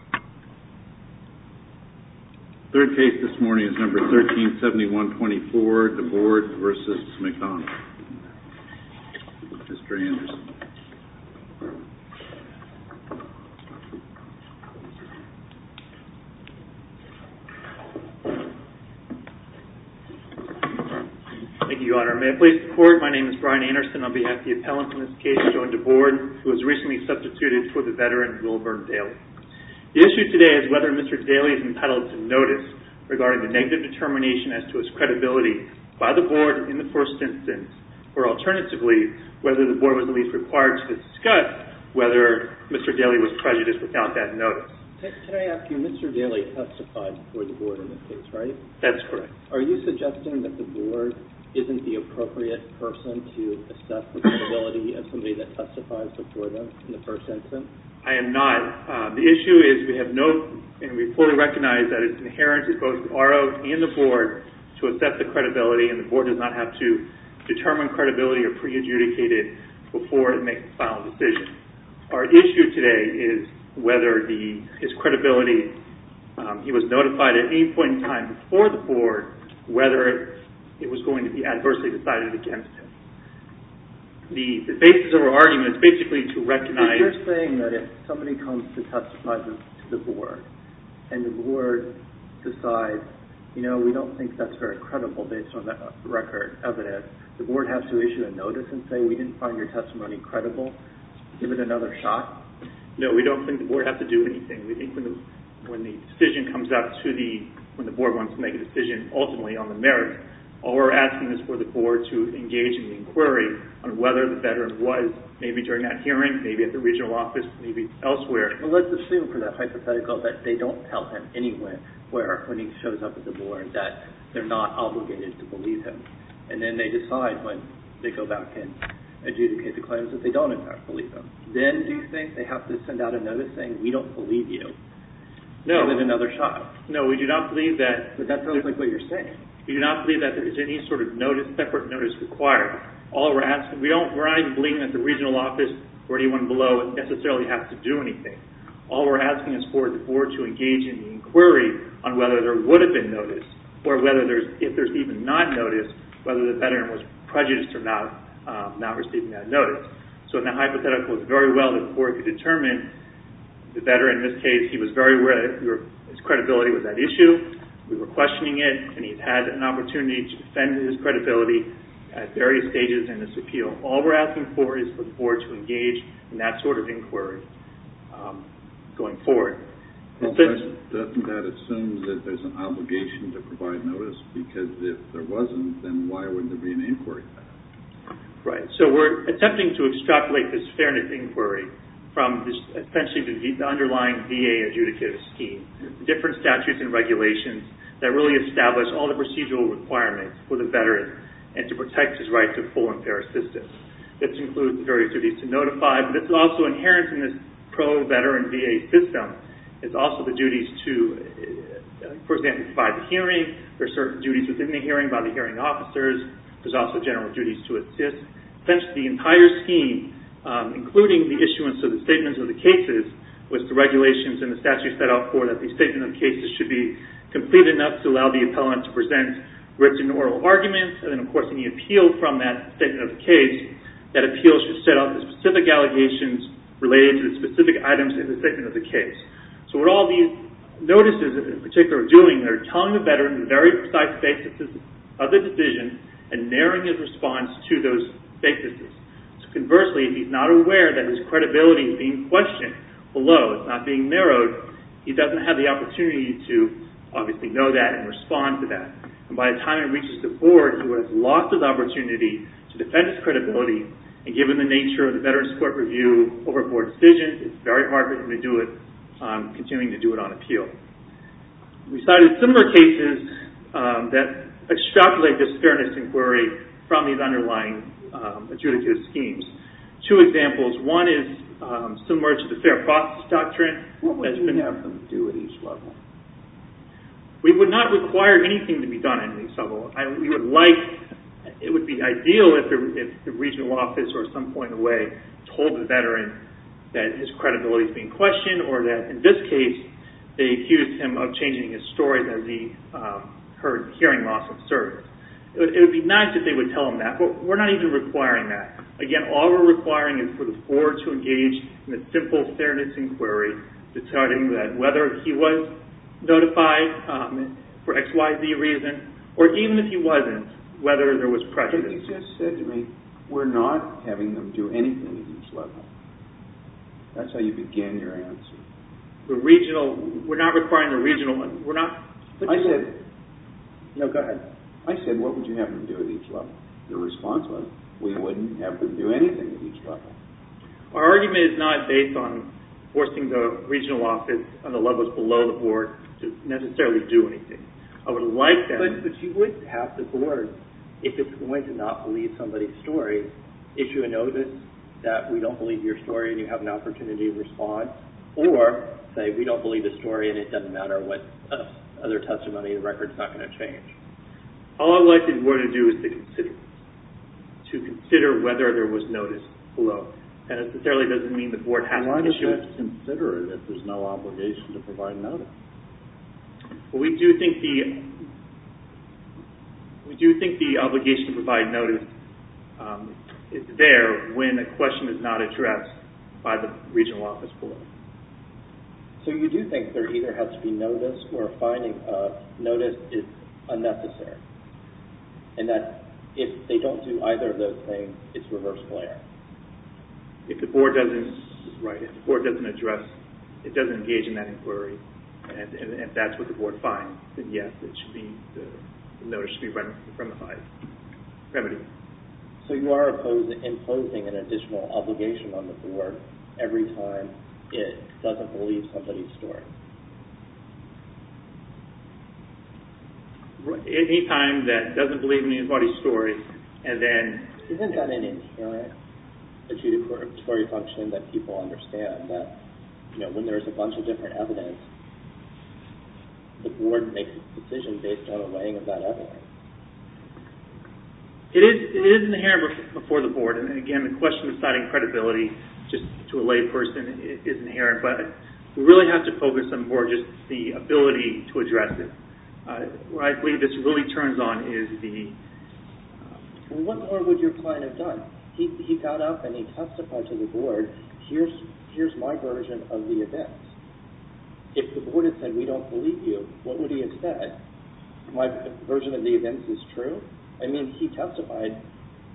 The third case this morning is number 137124, DeBord v. McDonald, Mr. Anderson. Thank you, Your Honor. May I please report? My name is Brian Anderson. On behalf of the appellants in this case, I join DeBord, who was recently substituted for the veteran Will Vernon Daly. The issue today is whether Mr. Daly is entitled to notice regarding the negative determination as to his credibility by the board in the first instance, or alternatively, whether the board was at least required to discuss whether Mr. Daly was prejudiced without that notice. Can I ask you, Mr. Daly testified before the board in this case, right? That's correct. Are you suggesting that the board isn't the appropriate person to assess the The issue is we have no, and we fully recognize that it's inherent to both the RO and the board to assess the credibility, and the board does not have to determine credibility or prejudicate it before it makes a final decision. Our issue today is whether his credibility, he was notified at any point in time before the board, whether it was going to be adversely decided against him. The basis of our argument is basically to recognize... to testify to the board, and the board decides, you know, we don't think that's very credible based on the record evidence. The board has to issue a notice and say, we didn't find your testimony credible. Give it another shot. No, we don't think the board has to do anything. We think when the decision comes out to the, when the board wants to make a decision ultimately on the merits, all we're asking is for the board to engage in the inquiry on whether the veteran was maybe during that hearing, maybe at the regional office, maybe elsewhere. Well, let's assume for that hypothetical that they don't tell him anywhere where, when he shows up at the board that they're not obligated to believe him, and then they decide when they go back and adjudicate the claims that they don't in fact believe him. Then do you think they have to send out a notice saying, we don't believe you? No. Give it another shot. No, we do not believe that... But that sounds like what you're saying. We do not believe that there is any sort of notice, separate notice required. All we're asking, we don't, we're not even believing that the regional office or anyone below necessarily has to do anything. All we're asking is for the board to engage in the inquiry on whether there would have been notice, or whether there's, if there's even not notice, whether the veteran was prejudiced about not receiving that notice. So in the hypothetical, it's very well that the board could determine the veteran in this case, he was very aware that his credibility was at issue, we were questioning it, and he's had an opportunity to defend his credibility at various stages in this appeal. All we're asking for is for the board to engage in that sort of inquiry going forward. Doesn't that assume that there's an obligation to provide notice? Because if there wasn't, then why wouldn't there be an inquiry? Right. So we're attempting to extrapolate this fairness inquiry from essentially the underlying VA adjudicative scheme. Different statutes and regulations that really establish all the procedural requirements for the veteran and to protect his right to full and fair assistance. This includes the various duties to notify, but it's also inherent in this pro-veteran VA system. It's also the duties to, for example, provide the hearing, there's certain duties within the hearing by the hearing officers, there's also general duties to assist. Essentially, the entire scheme, including the issuance of the statements of the cases, was the regulations and the statute set up for that the statement of cases should be relevant to present written oral arguments, and then of course in the appeal from that statement of the case, that appeal should set up the specific allegations related to the specific items in the statement of the case. So what all these notices in particular are doing, they're telling the veteran the very precise basis of the decision and narrowing his response to those basis. So conversely, if he's not aware that his credibility is being questioned below, it's not being narrowed, he doesn't have the opportunity to obviously know that and respond to that. And by the time he reaches the board, he has lost his opportunity to defend his credibility, and given the nature of the veteran's court review over board decisions, it's very hard for him to do it, continuing to do it on appeal. We cited similar cases that extrapolate this fairness inquiry from these underlying adjudicative schemes. Two examples, one is similar to the Fair Process Doctrine. What would you have them do at each level? We would not require anything to be done at each level. We would like, it would be ideal if the regional office or some point away told the veteran that his credibility is being questioned or that in this case, they accused him of changing his story as he heard hearing loss of service. It would be nice if they would tell him that, but we're not even requiring that. Again, all we're requiring is for the board to engage in a simple fairness inquiry to tell him that whether he was notified for X, Y, Z reason, or even if he wasn't, whether there was prejudice. But you just said to me, we're not having them do anything at each level. That's how you began your answer. The regional, we're not requiring the regional, we're not... I said... No, go ahead. I said, what would you have them do at each level? The response was, we wouldn't have them do anything at each level. Our argument is not based on forcing the regional office on the levels below the board to necessarily do anything. I would like them... But you would have the board, if it's going to not believe somebody's story, issue a notice that we don't believe your story and you have an opportunity to respond, or say we don't believe the story and it doesn't matter what other testimony, the record's not going to change. All I would like the board to do is to consider, to consider whether there was notice below. That necessarily doesn't mean the board has to issue... Why would they have to consider it if there's no obligation to provide notice? Well, we do think the obligation to provide notice is there when a question is not addressed by the regional office below. So you do think there either has to be notice or finding a notice is unnecessary, and that if they don't do either of those things, it's reverse glare. If the board doesn't, right, if the board doesn't address, it doesn't engage in that inquiry, and if that's what the board finds, then yes, it should be, the notice should be run from the side. Remedy. So you are imposing an additional obligation on the board every time it doesn't believe somebody's story? Any time that it doesn't believe anybody's story, and then... Isn't that an inherent statutory function that people understand, that when there's a bunch of different evidence, the board makes a decision based on a weighing of that evidence? It is inherent before the board, and again, the question of deciding credibility just to a layperson is inherent, but we really have to focus on more just the ability to address it. Where I believe this really turns on is the... Well, what more would your client have done? He got up and he testified to the board, here's my version of the events. If the board had said, we don't believe you, what would he have said? My version of the events is true? I mean, he testified,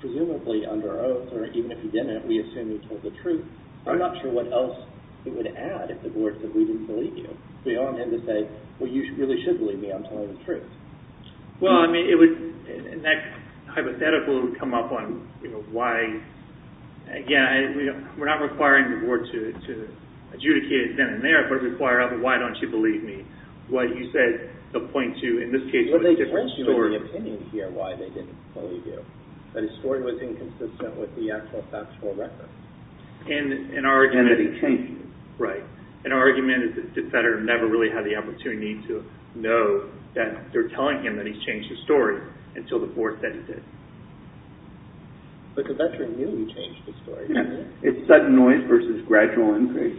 presumably under oath, or even if he didn't, we assume he told the truth. I'm not sure what else he would add if the board said, we didn't believe you. Beyond him to say, well, you really should believe me, I'm telling the truth. Well, I mean, it would, in that hypothetical, it would come up on, you know, why, again, we're not requiring the board to adjudicate it then and there, but it would require, well, why don't you believe me? What you said, the point to, in this case, was a different story. Well, they press you in the opinion here why they didn't believe you. That his story was inconsistent with the actual factual record. And that he changed it. Right. And our argument is that the veteran never really had the opportunity to know that they're telling him that he's changed his story until the board said he did. But the veteran knew he changed his story. Yeah. It's sudden noise versus gradual increase.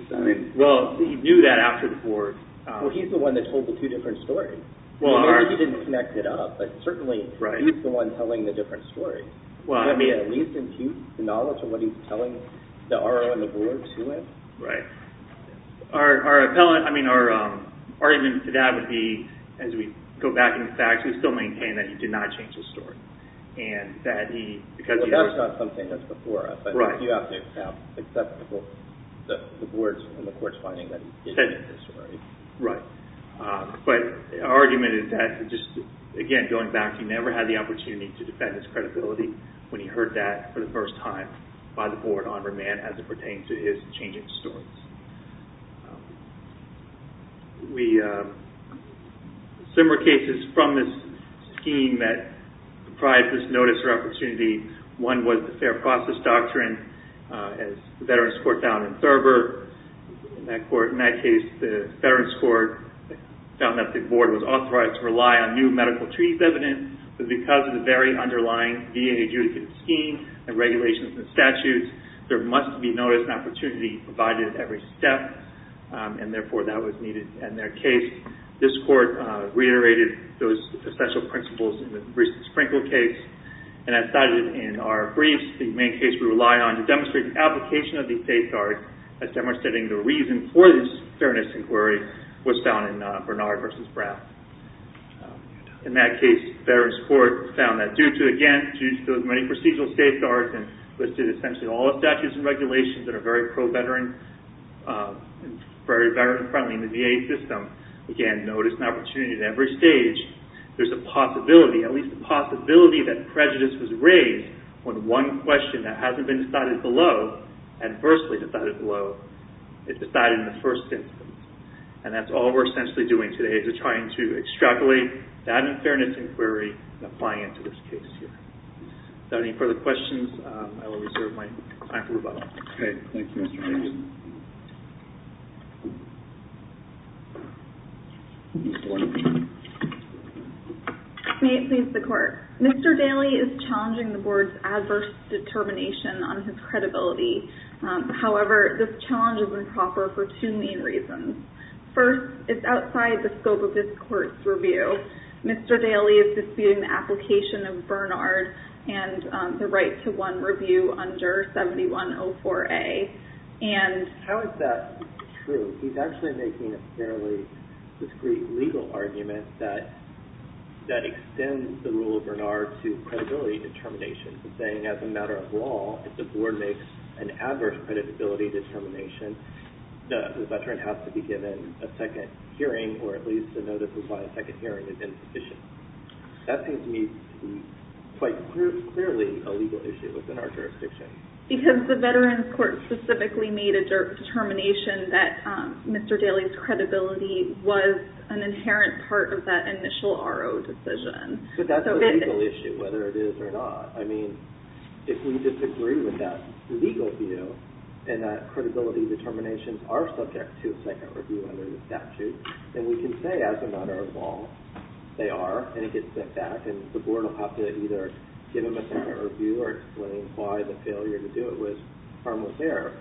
Well, he knew that after the board. Well, he's the one that told the two different stories. Well, maybe he didn't connect it up, but certainly he's the one telling the different stories. Well, I mean. That may at least impute the knowledge of what he's telling the RO and the board to him. Right. Our, I mean, our argument to that would be, as we go back into the facts, we still maintain that he did not change his story. And that he, because he was. Well, that's not something that's before us. Right. And that's why you have to accept the board's and the court's finding that he changed his story. Right. But our argument is that just, again, going back, he never had the opportunity to defend his credibility when he heard that for the first time by the board on remand as it pertained to his changing stories. We, similar cases from this scheme that deprived us notice or opportunity, one was the Fair Process Doctrine as the Veterans Court found in Thurber. In that case, the Veterans Court found that the board was authorized to rely on new medical treaties evidence. But because of the very underlying VA adjudicate scheme and regulations and statutes, there must be notice and opportunity provided at every step. And therefore, that was needed in their case. This court reiterated those essential principles in the recent Sprinkle case. And as cited in our briefs, the main case we relied on to demonstrate the application of these safeguards as demonstrating the reason for this fairness inquiry was found in Bernard v. Brown. In that case, the Veterans Court found that due to, again, due to those many procedural safeguards and listed essentially all the statutes and regulations that are very pro-veteran, very veteran-friendly in the VA system, again, notice and opportunity at every stage, there's a possibility, at least a possibility that prejudice was raised when one question that hasn't been decided below, adversely decided below, is decided in the first instance. And that's all we're essentially doing today is we're trying to extrapolate that unfairness inquiry and applying it to this case here. Without any further questions, I will reserve my time for rebuttal. Okay. Thank you, Mr. Daly. May it please the Court. Mr. Daly is challenging the Board's adverse determination on his credibility. However, this challenge is improper for two main reasons. First, it's outside the scope of this Court's review. Mr. Daly is disputing the application of Bernard and the right to one review under 7104A. How is that true? He's actually making a fairly discreet legal argument that extends the rule of Bernard to credibility determination, saying as a matter of law, if the Board makes an adverse credibility determination, the veteran has to be given a second hearing, or at least a notice of why a second hearing is insufficient. That seems to me to be quite clearly a legal issue within our jurisdiction. Because the Veterans Court specifically made a determination that Mr. Daly's credibility was an inherent part of that initial RO decision. But that's a legal issue, whether it is or not. I mean, if we disagree with that legal view, and that credibility determinations are subject to a second review under the statute, then we can say as a matter of law, they are, and it gets sent back, and the Board will have to either give him a second review or explain why the failure to do it was almost there.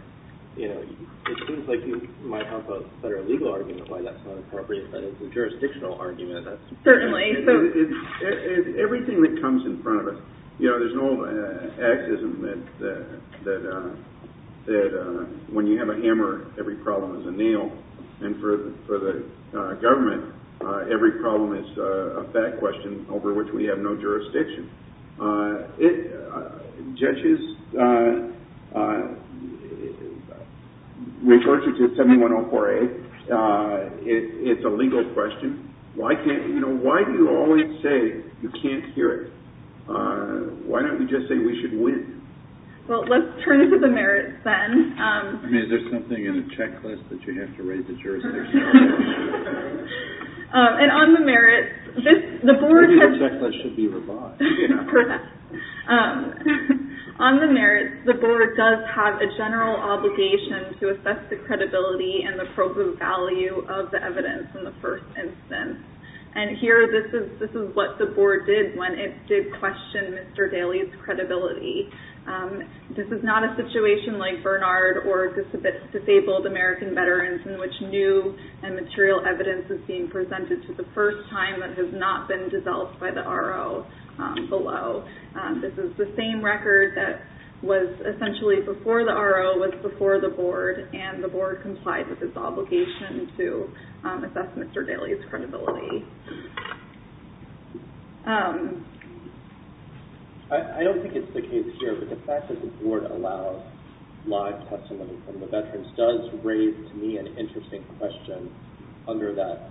You know, it seems like you might have a better legal argument why that's not appropriate, but as a jurisdictional argument, that's... Certainly. Everything that comes in front of us... You know, there's an old axism that when you have a hammer, every problem is a nail. And for the government, every problem is a fat question over which we have no jurisdiction. It... judges... With regards to 7104A, it's a legal question. Why can't... you know, why do you always say you can't hear it? Why don't we just say we should win? Well, let's turn to the merits then. I mean, is there something in the checklist that you have to raise the jurisdiction on? And on the merits, the Board... Maybe the checklist should be revised. Perhaps. On the merits, the Board does have a general obligation to assess the credibility and the appropriate value of the evidence in the first instance. And here, this is what the Board did when it did question Mr. Daley's credibility. This is not a situation like Bernard or Disabled American Veterans in which new and material evidence is being presented for the first time and has not been dissolved by the RO below. This is the same record that was essentially before the RO was before the Board, and the Board complied with its obligation to assess Mr. Daley's credibility. I don't think it's the case here, but the fact that the Board allows live testimony from the veterans does raise, to me, an interesting question under that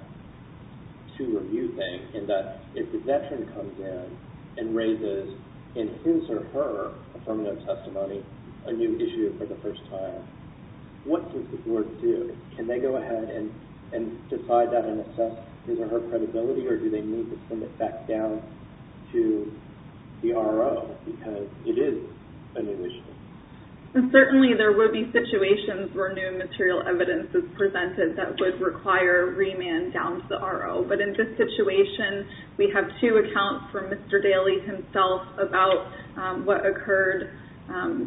two-review thing, in that if the veteran comes in and raises in his or her affirmative testimony a new issue for the first time, what does the Board do? Can they go ahead and decide that and assess his or her credibility, or do they need to send it back down to the RO because it is a new issue? Certainly, there would be situations where new material evidence is presented that would require remand down to the RO. But in this situation, we have two accounts from Mr. Daley himself about what occurred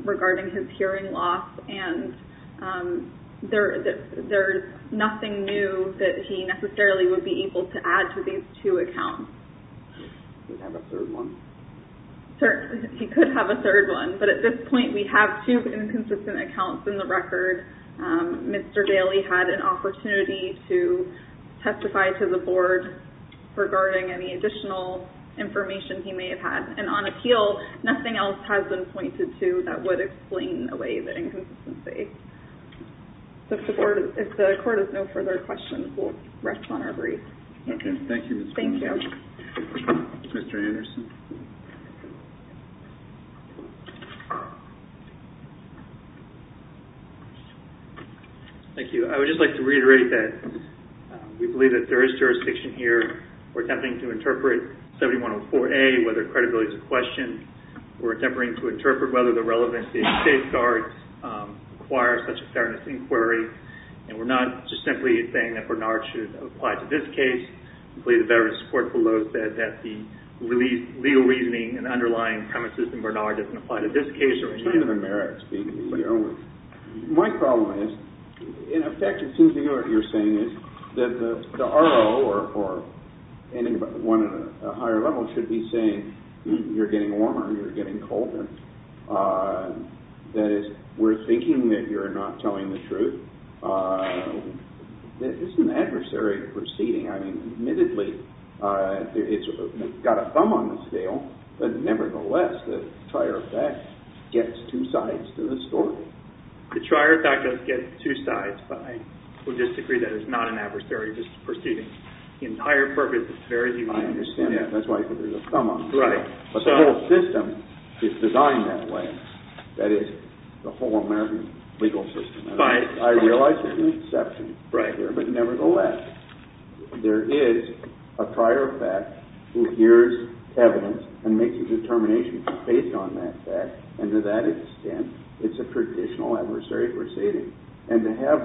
regarding his hearing loss, and there is nothing new that he necessarily would be able to add to these two accounts. He could have a third one. But at this point, we have two inconsistent accounts in the record. Mr. Daley had an opportunity to testify to the Board regarding any additional information he may have had. And on appeal, nothing else has been pointed to that would explain away the inconsistency. If the Court has no further questions, we'll rest on our brief. Okay. Thank you, Ms. Boone. Thank you. Mr. Anderson? Thank you. I would just like to reiterate that we believe that there is jurisdiction here. We're attempting to interpret 7104A, whether credibility is a question. We're attempting to interpret whether the relevancy of safeguards requires such a fairness inquiry. And we're not just simply saying that Bernard should apply to this case. I believe the veterans' court below said that the legal reasoning and underlying premises of Bernard doesn't apply to this case. In terms of the merits, my problem is, in effect, it seems to me what you're saying is that the RO or anyone at a higher level should be saying you're getting warmer, you're getting colder. That is, we're thinking that you're not telling the truth. This is an adversary proceeding. I mean, admittedly, it's got a thumb on the scale, but nevertheless, the trier of fact gets two sides to the story. The trier of fact does get two sides, but I would disagree that it's not an adversary just proceeding. The entire purpose is to verify. I understand that. That's why I said there's a thumb on the scale. Right. But the whole system is designed that way. That is, the whole American legal system. Right. I realize there's an exception right there, but nevertheless, there is a trier of fact who hears evidence and makes a determination based on that fact, and to that extent, it's a traditional adversary proceeding. And to have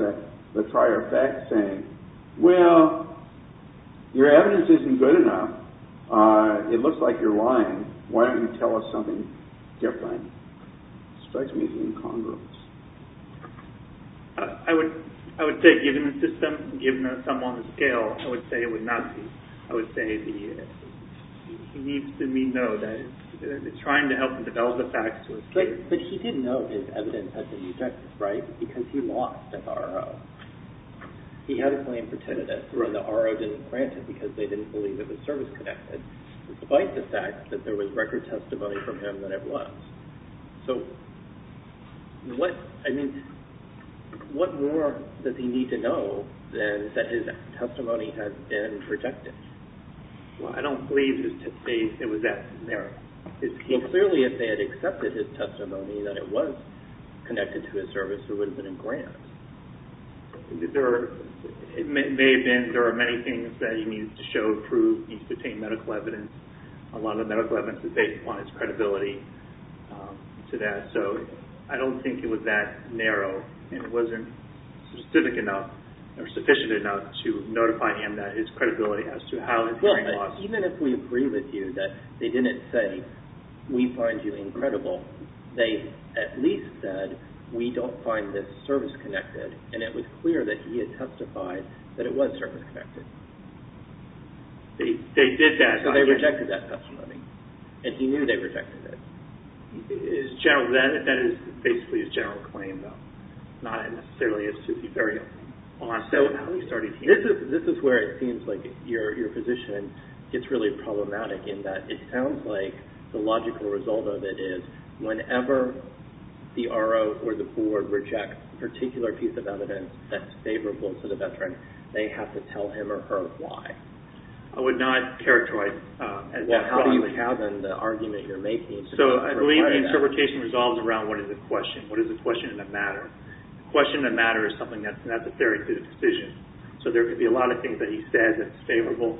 the trier of fact saying, well, your evidence isn't good enough, it looks like you're lying, why don't you tell us something different, strikes me as incongruous. I would say, given the system, given the thumb on the scale, I would say it would not be. I would say he needs to know that he's trying to help him develop the facts to his case. But he didn't know his evidence had any effects, right, because he lost his RO. He had a claim for tinnitus, where the RO didn't grant it because they didn't believe it was service-connected, despite the fact that there was record testimony from him that it was. So, I mean, what more does he need to know than that his testimony has been protected? Well, I don't believe it was that narrow. So clearly, if they had accepted his testimony, that it was connected to his service, it would have been a grant. It may have been. There are many things that he needs to show, prove. He needs to obtain medical evidence. A lot of the medical evidence that they want is credibility to that. So I don't think it was that narrow, and it wasn't specific enough, or sufficient enough, to notify him that his credibility as to how his hearing loss... Well, but even if we agree with you that they didn't say, we find you incredible, they at least said, we don't find this service-connected, and it was clear that he had testified that it was service-connected. They did that. So they rejected that testimony, and he knew they rejected it. That is basically his general claim, though. Not necessarily as to be very honest about how he started hearing. This is where it seems like your position gets really problematic, in that it sounds like the logical result of it is whenever the RO or the board rejects a particular piece of evidence that's favorable to the veteran, they have to tell him or her why. I would not characterize... What do you have in the argument you're making? So I believe the interpretation resolves around what is the question. What is the question that matters? The question that matters is something that's necessary to the decision. So there could be a lot of things that he says that's favorable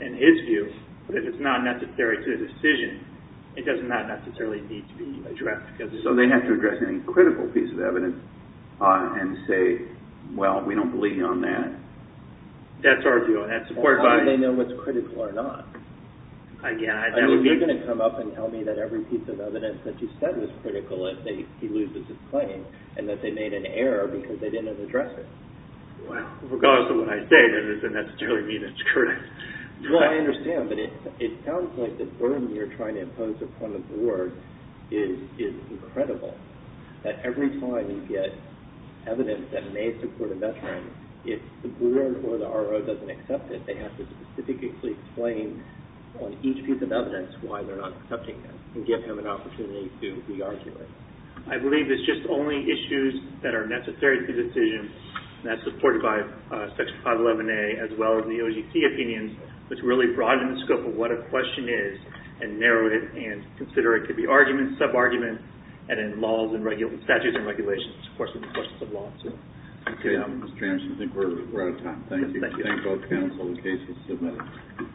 in his view, but if it's not necessary to the decision, it does not necessarily need to be addressed. So they have to address any critical piece of evidence and say, well, we don't believe you on that. That's our view. How do they know what's critical or not? I mean, they're going to come up and tell me that every piece of evidence that you said was critical, if he loses his claim, and that they made an error because they didn't address it. Well, regardless of what I say, that doesn't necessarily mean it's correct. Well, I understand, but it sounds like the burden you're trying to impose upon the board is incredible, that every time you get evidence that may support a veteran, if the board or the RO doesn't accept it, they have to specifically explain on each piece of evidence why they're not accepting it and give him an opportunity to re-argue it. I believe it's just only issues that are necessary to the decision, and that's supported by Section 511A as well as the OGC opinions, which really broaden the scope of what a question is and narrow it and consider it to be arguments, sub-arguments, and in laws and statutes and regulations, of course, it's a question of law, too. Okay, Mr. James, I think we're out of time. Thank you. Thank you. I'll cancel the case and submit it.